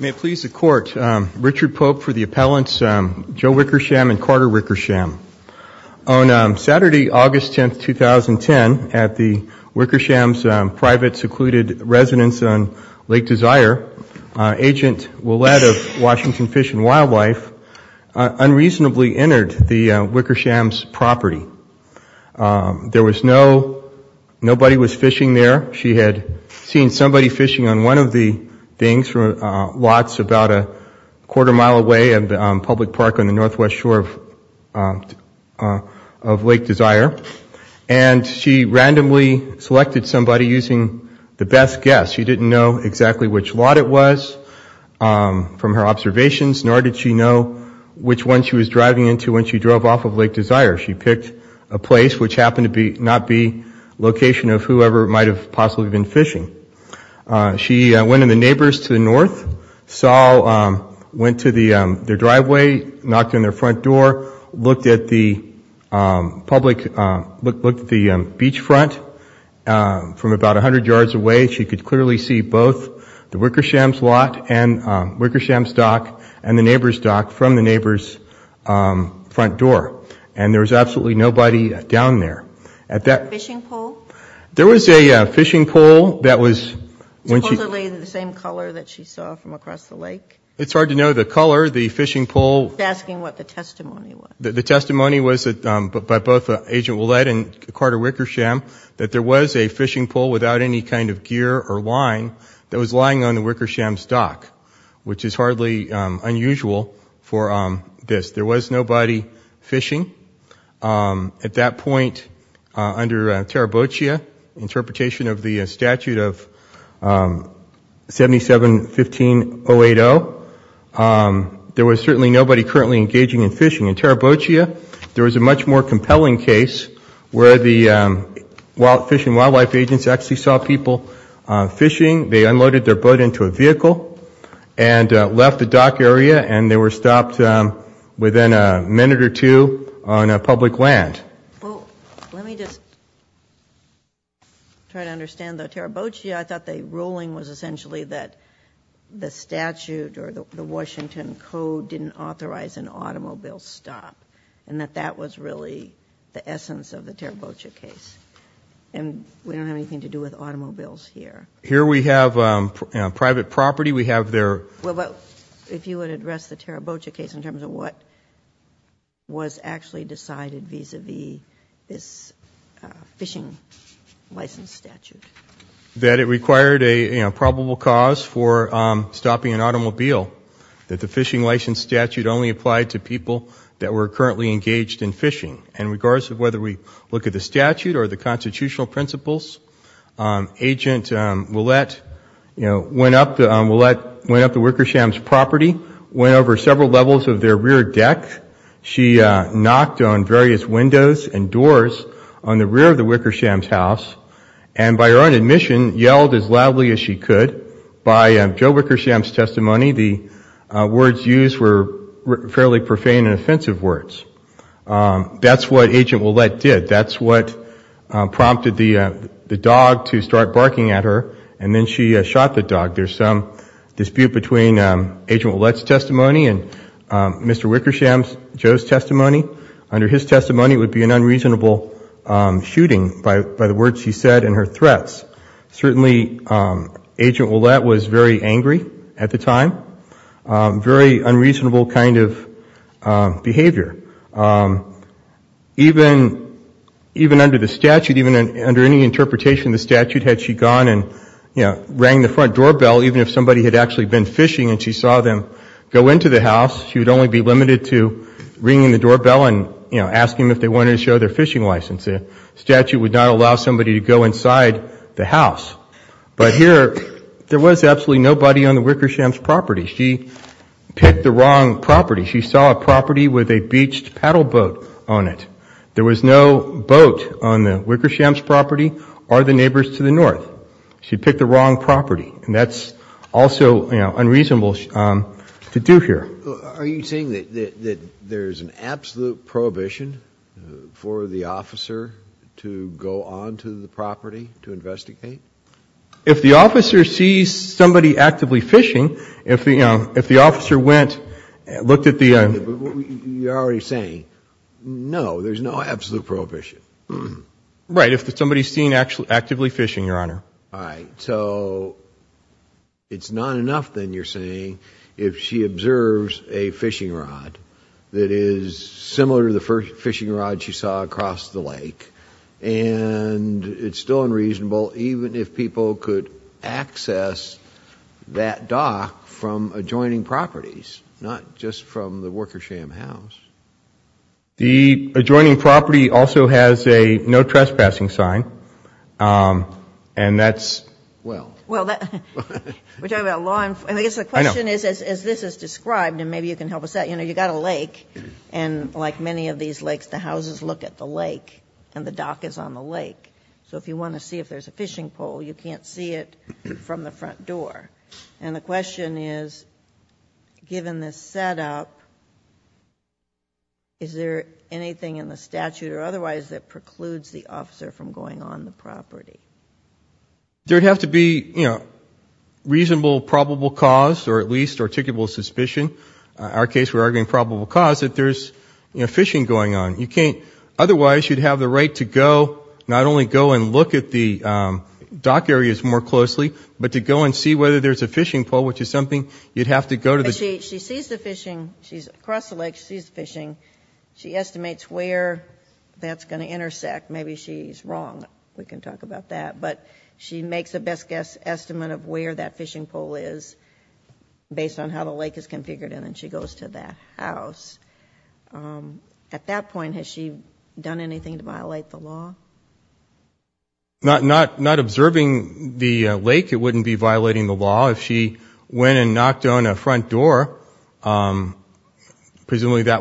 Richard Pope for the appellants Joe Wickersham and Carter Wickersham. On Saturday, August 10th, 2010, at the Wickersham's private secluded residence on Lake Desire, Agent Ouellette of Washington Fish and Wildlife unreasonably entered the Wickersham's property. There was no, nobody was fishing there. She had seen somebody fishing on one of the things, lots about a quarter mile away in the public park on the northwest shore of Lake Desire, and she randomly selected somebody using the best guess. She didn't know exactly which lot it was from her observations, nor did she know which one she was driving into when she drove off of Lake Desire. She picked a place which happened to not be location of whoever might have possibly been fishing. She went in the neighbor's to the north, saw, went to their driveway, knocked on their front door, looked at the public, looked at the beach front from about 100 yards away. She could clearly see both the Wickersham's lot and Wickersham's dock and the neighbor's dock from the neighbor's front door. And there was absolutely nobody down there. There was a fishing pole that was... Supposedly the same color that she saw from across the lake? It's hard to know the color, the fishing pole. She's asking what the testimony was. The testimony was by both Agent Ouellette and Carter Wickersham that there was a fishing pole without any kind of signage on it. There was certainly nobody engaging in fishing. In Tarabochia, there was a much more compelling case where the fish and wildlife agents actually saw people fishing. They unloaded their boat into a vehicle and left the dock area and they were stopped within a minute or two on public land. Let me just try to understand the Tarabochia. I thought the ruling was essentially that the statute or the Washington Code didn't authorize an automobile stop and that that was really the essence of the Tarabochia case. And we don't have anything to do with automobiles here. Here we have private property. We have their... If you would address the Tarabochia case in terms of what was actually decided vis-à-vis this fishing license statute. That it required a probable cause for stopping an automobile. That the fishing license statute only applied to people that were currently engaged in fishing. In regards to whether we look at the statute or the constitutional principles, Agent Ouellette went up to Wickersham's property, went over several levels of their rear deck. She knocked on various windows and doors on the rear of the Wickersham's house. And by her own admission yelled as loudly as she could. By Joe Wickersham's testimony, the words used were fairly profane and offensive words. That's what Agent Ouellette did. That's what prompted the dog to start barking at her. And then she shot the dog. There's some dispute between Agent Ouellette's testimony and Mr. Wickersham's, Joe's testimony. Under his testimony it would be an unreasonable shooting by the words he said and her threats. Certainly Agent Ouellette was very angry at the time. Very unreasonable kind of behavior. Even under the statute, even under any interpretation of the statute, had she gone and, you know, rang the front doorbell, even if somebody had actually been fishing and she saw them go into the house, she would only be limited to ringing the doorbell and, you know, asking them if they wanted to show their fishing license. The statute would not allow somebody to go inside the house. But here there was absolutely nobody on the Wickersham's property. She picked the wrong property. She saw a property with a beached paddle boat on it. There was no boat on the Wickersham's property or the neighbors to the north. She picked the wrong property. And that's also, you know, unreasonable to do here. Are you saying that there's an absolute prohibition for the officer to go onto the property to investigate? If the officer sees somebody actively fishing, if the officer went and looked at the... You're already saying, no, there's no absolute prohibition. Right. If somebody's seen actively fishing, Your Honor. All right. So it's not enough, then, you're saying, if she observes a fishing rod that is similar to the fishing rod she saw across the lake, and it's still unreasonable, even if people could access that dock from adjoining properties, not just from the Wickersham house. The adjoining property also has a no trespassing sign. And that's, well... The question is, as this is described, and maybe you can help us out, you know, you've got a lake, and like many of these lakes, the houses look at the lake, and the dock is on the lake. So if you want to see if there's a fishing pole, you can't see it from the front door. And the question is, given this setup, is there anything in the statute or otherwise that precludes the officer from going on the property? There would have to be, you know, reasonable, probable cause, or at least articulable suspicion. Our case, we're arguing probable cause, that there's fishing going on. Otherwise, you'd have the right to go, not only go and look at the dock areas more closely, but to go and see whether there's a fishing pole, which is something you'd have to go to the... She sees the fishing. She's across the lake. She sees the fishing. She estimates where that's going to intersect. Maybe she's wrong. We can talk about that. But she makes a best estimate of where that fishing pole is, based on how the lake is configured, and then she goes to that house. At that point, has she done anything to violate the law? Not observing the lake, it wouldn't be violating the law. If she went and knocked on a front door, presumably that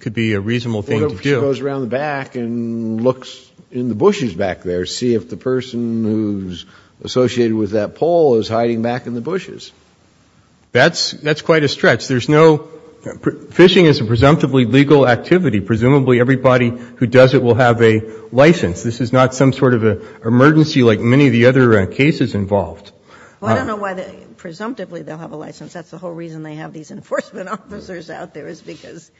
could be a reasonable thing to do. Well, if she goes around the back and looks in the bushes back there, see if the person who's associated with that pole is hiding back in the bushes. That's quite a stretch. Fishing is a presumptively legal activity. Presumably everybody who does it will have a license. This is not some sort of an emergency like many of the other cases involved. Well, I don't know why they... Presumptively they'll have a license. That's the whole reason they have these enforcement officers out there, is because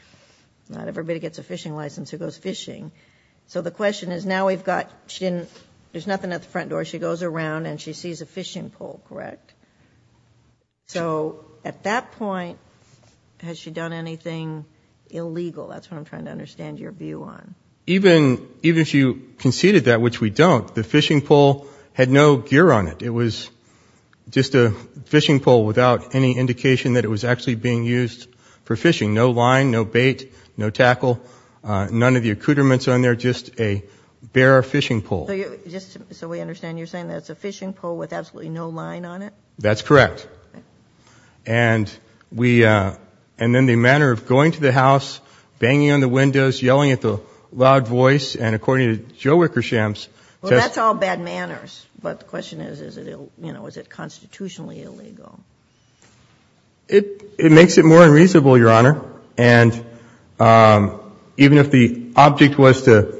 not everybody gets a fishing license who goes fishing. So the question is, now we've got... She didn't... There's nothing at the front door. She goes around and she sees a fishing pole, correct? So at that point, has she done anything illegal? That's what I'm trying to understand your view on. Even if you conceded that, which we don't, the fishing pole had no gear on it. It was just a fishing pole without any indication that it was actually being used for fishing. No line, no bait, no tackle, none of the accoutrements on there, just a bare fishing pole. So we understand you're saying that it's a fishing pole with absolutely no line on it? That's correct. And then the manner of going to the house, banging on the windows, yelling at the loud voice, and according to Joe Wickersham's... Well, that's all bad manners. But the question is, is it constitutionally illegal? It makes it more unreasonable, Your Honor. And even if the object was to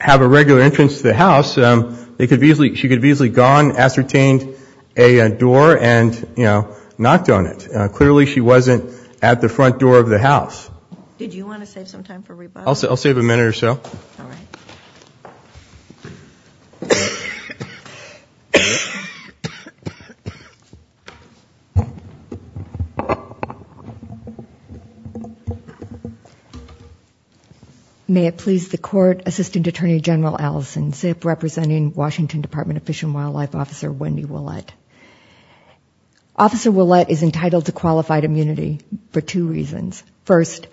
have a regular entrance to the house, she could have easily gone, ascertained a door and knocked on it. Clearly she wasn't at the front door of the house. Did you want to save some time for rebuttal? I'll save a minute or so. May it please the Court, Assistant Attorney General Allison Zip, representing Washington Department of Fish and Wildlife Officer Wendy Ouellette. Officer Ouellette is entitled to qualified immunity for two reasons. First,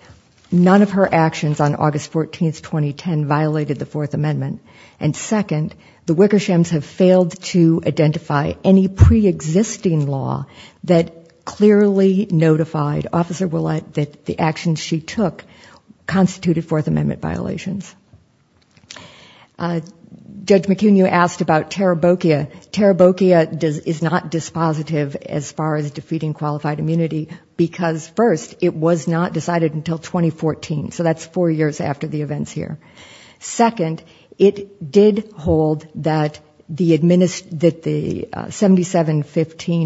none of her actions on August 14, 2010, violated the Fourth Amendment. And second, the Wickershams have failed to identify any pre-existing law that clearly notified officers Ouellette that the actions she took constituted Fourth Amendment violations. Judge McCune, you asked about Tarabokia. Tarabokia is not dispositive as far as defeating qualified immunity, because first, it was not decided until 2014. So that's four years after the events here. Second, it did hold that the 77-15-080 did not support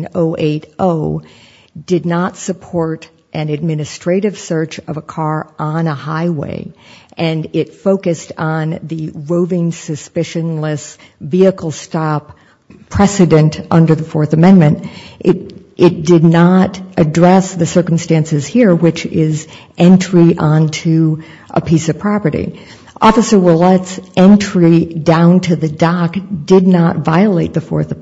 Tarabokia. It did not support an administrative search of a car on a highway. And it focused on the roving, suspicionless vehicle stop precedent under the Fourth Amendment. It did not address the circumstances here, which is entry onto a piece of property. Officer Ouellette's entry down to the dock did not violate the Fourth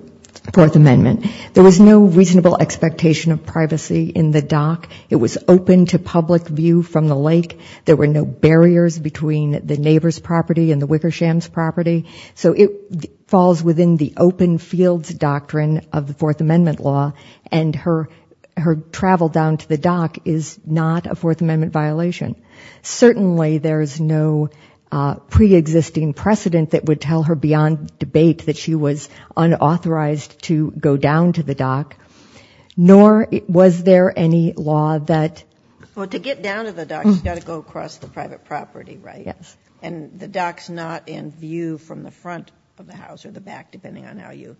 Amendment. There was no reasonable expectation of privacy in the dock. It was open to public view from the lake. There were no barriers between the neighbor's property and the Wickershams' property. So it falls within the open fields doctrine of the Fourth Amendment law. And her travel down to the dock is not a Fourth Amendment violation. Certainly there's no preexisting precedent that would tell her beyond debate that she was unauthorized to go down to the dock, nor was there any law that... Well, to get down to the dock, you've got to go across the private property, right? And the dock's not in view from the front of the house or the back, depending on how you...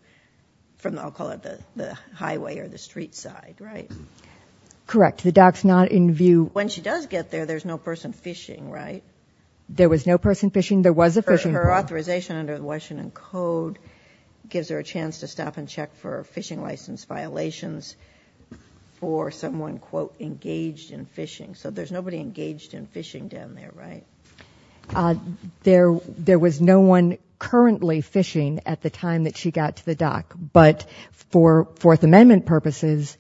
I'll call it the highway or the street side, right? Correct. The dock's not in view... When she does get there, there's no person fishing, right? There was no person fishing. There was a fishing boat. Her authorization under the Washington Code gives her a chance to stop and check for fishing license violations for someone, quote, engaged in fishing. So there's nobody engaged in fishing down there, right? There was no one currently fishing at the time that she got to the dock. But for Fourth Amendment purposes,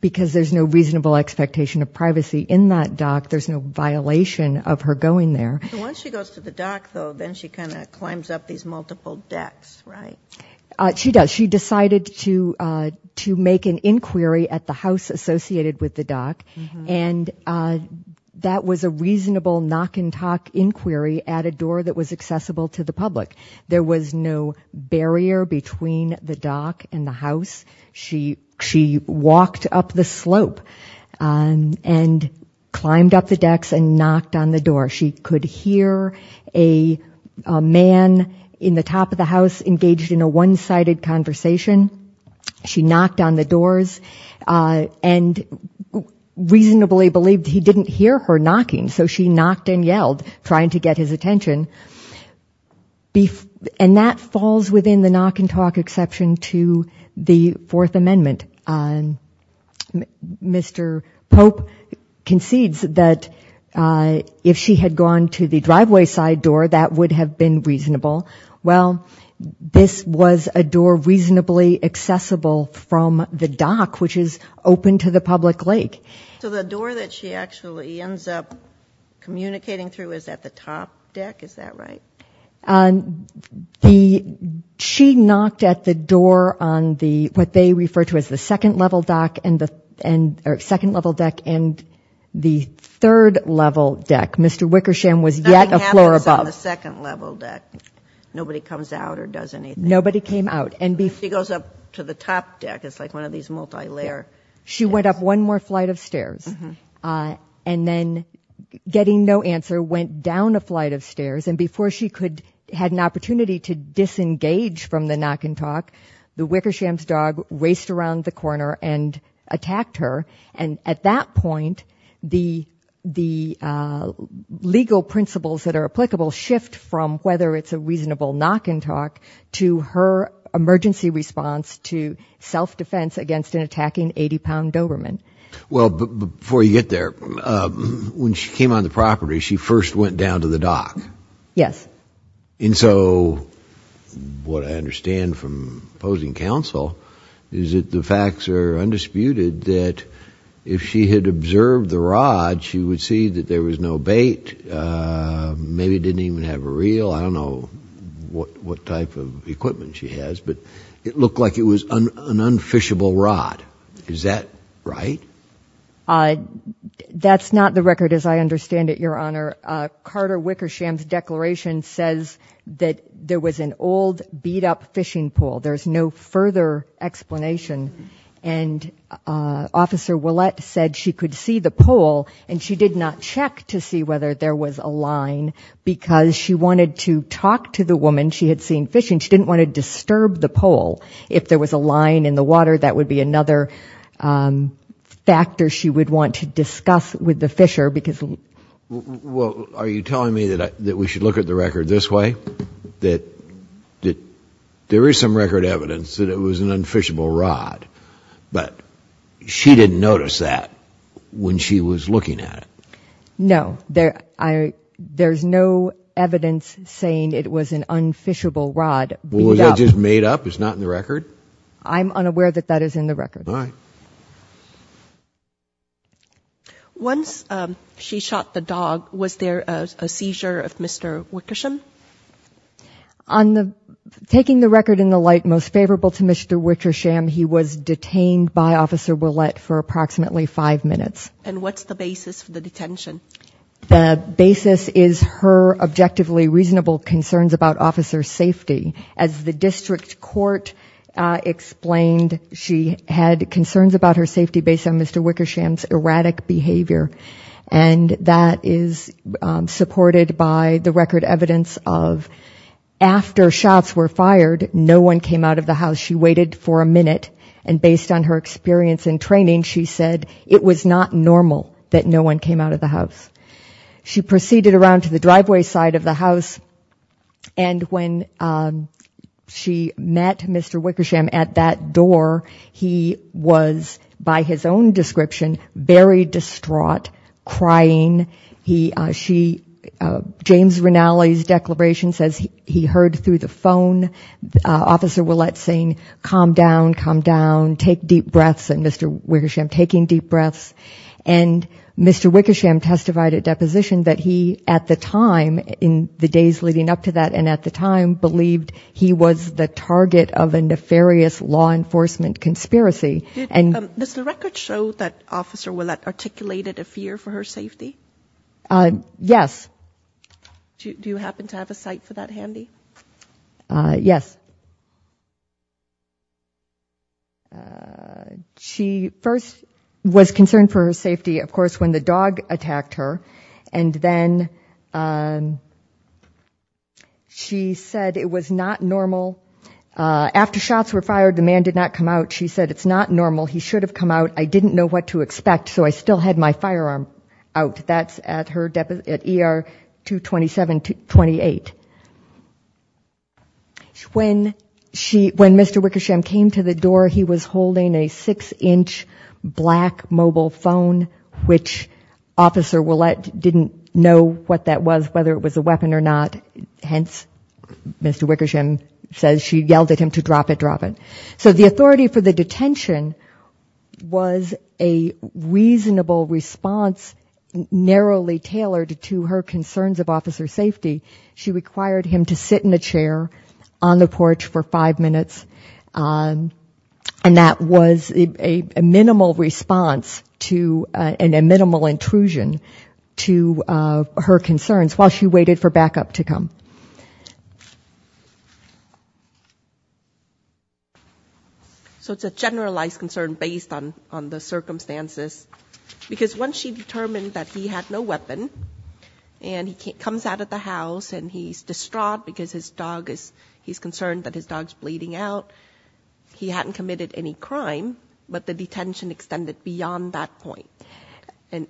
because there's no reasonable expectation of privacy in that dock, there's no violation of her going there. Once she goes to the dock, though, then she kind of climbs up these multiple decks, right? She does. She decided to make an inquiry at the house associated with the dock, and that was a reasonable knock-and-talk inquiry at a door that was accessible to the public. There was no barrier between the dock and the house. She walked up the slope and climbed up the decks and knocked on the door. She could hear a man in the top of the house engaged in a one-sided conversation. She knocked on the doors and reasonably believed he didn't hear her knocking. So she knocked and yelled, trying to get his attention. And that falls within the knock-and-talk exception to the Fourth Amendment. Mr. Pope concedes that if she had gone to the driveway side door, that would have been reasonable. Well, this was a door reasonably accessible from the dock, which is open to the public lake. So the door that she actually ends up communicating through is at the top deck? Is that right? She knocked at the door on what they refer to as the second-level deck and the third-level deck. Mr. Wickersham was yet a floor above. Nothing happens on the second-level deck. Nobody comes out or does anything. Nobody came out. She goes up to the top deck. It's like one of these multi-layer decks. She went up one more flight of stairs, and then, getting no answer, went down a flight of stairs, and before she had an opportunity to disengage from the knock-and-talk, the Wickersham's dog raced around the corner and attacked her. And at that point, the legal principles that are applicable shift from whether it's a reasonable knock-and-talk to her emergency response to self-defense against an attacking 80-pound Doberman. Well, before you get there, when she came on the property, she first went down to the dock. Yes. And so what I understand from opposing counsel is that the facts are undisputed that if she had observed the rod, she would see that there was no bait, maybe didn't even have a reel. I don't know what type of equipment she has, but it looked like it was an unfishable rod. Is that right? That's not the record as I understand it, Your Honor. Carter Wickersham's declaration says that there was an old, beat-up fishing pole. There's no further explanation. And Officer Ouellette said she could see the pole, and she did not check to see whether there was a line, but that's another factor she would want to discuss with the fisher. Well, are you telling me that we should look at the record this way, that there is some record evidence that it was an unfishable rod, but she didn't notice that when she was looking at it? No. There's no evidence saying it was an unfishable rod. Was it just made up? It's not in the record? I'm unaware that that is in the record. All right. Once she shot the dog, was there a seizure of Mr. Wickersham? Taking the record in the light most favorable to Mr. Wickersham, he was detained by Officer Ouellette for approximately five minutes. And what's the basis for the detention? The basis is her objectively reasonable concerns about Officer's safety. As the district court explained, she had concerns about her safety based on Mr. Wickersham's erratic behavior, and that is supported by the record evidence of, after shots were fired, no one came out of the house. She waited for a minute, and based on her experience in training, she said it was not normal that no one came out of the house. She proceeded around to the driveway side of the house, and when she met Mr. Wickersham at that door, he was, by his own description, very distraught, crying. James Rinaldi's declaration says he heard through the phone Officer Ouellette saying, calm down, calm down, take deep breaths, and Mr. Wickersham taking deep breaths. And Mr. Wickersham testified at deposition that he at the time, in the days leading up to that and at the time, believed he was the target of a nefarious law enforcement conspiracy. Does the record show that Officer Ouellette articulated a fear for her safety? Yes. Do you happen to have a cite for that handy? Yes. She first was concerned for her safety, of course, when the dog attacked her, and then she said it was not normal. After shots were fired, the man did not come out. She said it's not normal, he should have come out, I didn't know what to expect, so I still had my firearm out, that's at ER 227-28. When Mr. Wickersham came to the door, he was holding a six-inch black mobile phone, which Officer Ouellette didn't know what that was, whether it was a weapon or not, hence Mr. Wickersham says she yelled at him to drop it, drop it. So the authority for the detention was a reasonable response, narrowly tailored to her concerns of officer safety. She required him to sit in a chair on the porch for five minutes, and that was a minimal response and a minimal intrusion to her concerns, while she waited for backup to come. So it's a generalized concern based on the circumstances, because once she determined that he had no weapon, and he comes out of the house, and he's distraught because his dog is, he's concerned that his dog's bleeding out, he hadn't committed any crime, but the detention extended beyond that point. And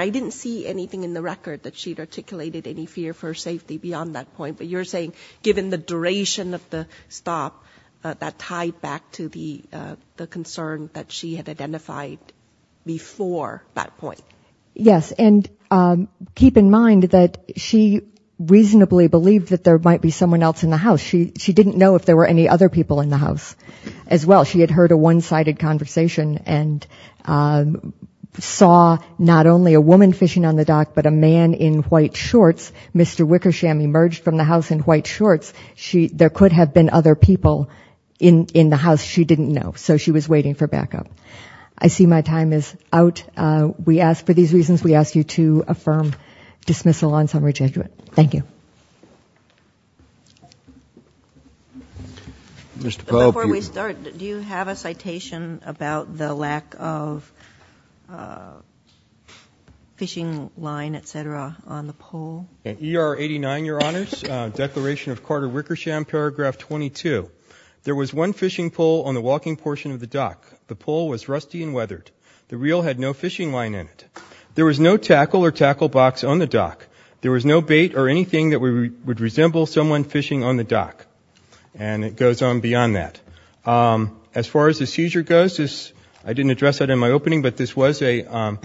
I didn't see anything in the record that she'd articulated any fear for safety beyond that point, but you're saying given the duration of the stop, that tied back to the concern that she had identified before that point. Yes, and keep in mind that she reasonably believed that there might be someone else in the house. She didn't know if there were any other people in the house as well. She had heard a one-sided conversation and saw not only a woman fishing on the dock, but a man in white shorts, Mr. Wickersham, emerged from the house in white shorts. There could have been other people in the house she didn't know. So she was waiting for backup. I see my time is out. We ask for these reasons. We ask you to affirm dismissal on summary judgment. Thank you. Before we start, do you have a citation about the lack of fishing line, etc., on the pole? ER 89, Your Honors, declaration of Carter Wickersham, paragraph 22. There was one fishing pole on the walking portion of the dock. The pole was rusty and weathered. The reel had no fishing line in it. There was no tackle or tackle box on the dock. There was no bait or anything that would resemble someone fishing on the dock. And it goes on beyond that. As far as the seizure goes, I didn't address that in my opening, but this was an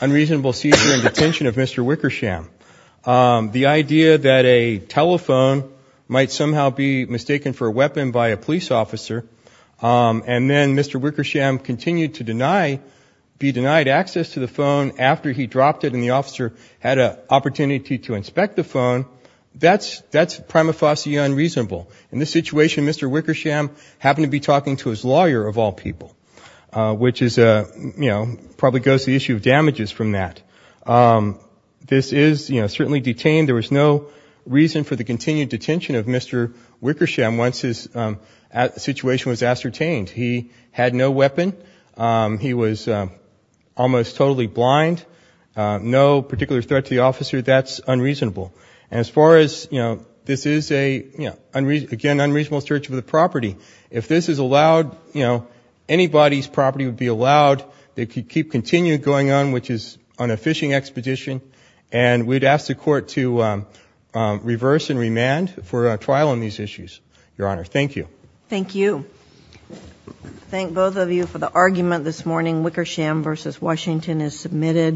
unreasonable seizure and detention of Mr. Wickersham. The idea that a telephone might somehow be mistaken for a weapon by a police officer, and then Mr. Wickersham continued to be denied access to the phone after he dropped it and the officer had an opportunity to inspect the phone, that's prima facie unreasonable. In this situation, Mr. Wickersham happened to be talking to his lawyer, of all people, which probably goes to the issue of damages from that. This is certainly detained. There was no reason for the continued detention of Mr. Wickersham once his situation was ascertained. He had no weapon. He was almost totally blind. No particular threat to the officer. That's unreasonable. And as far as this is a, again, unreasonable search of the property, if this is allowed, anybody's property would be allowed. They could keep continuing going on, which is on a fishing expedition, and we'd ask the Court to reverse and remand for a trial on these issues, Your Honor. Thank you.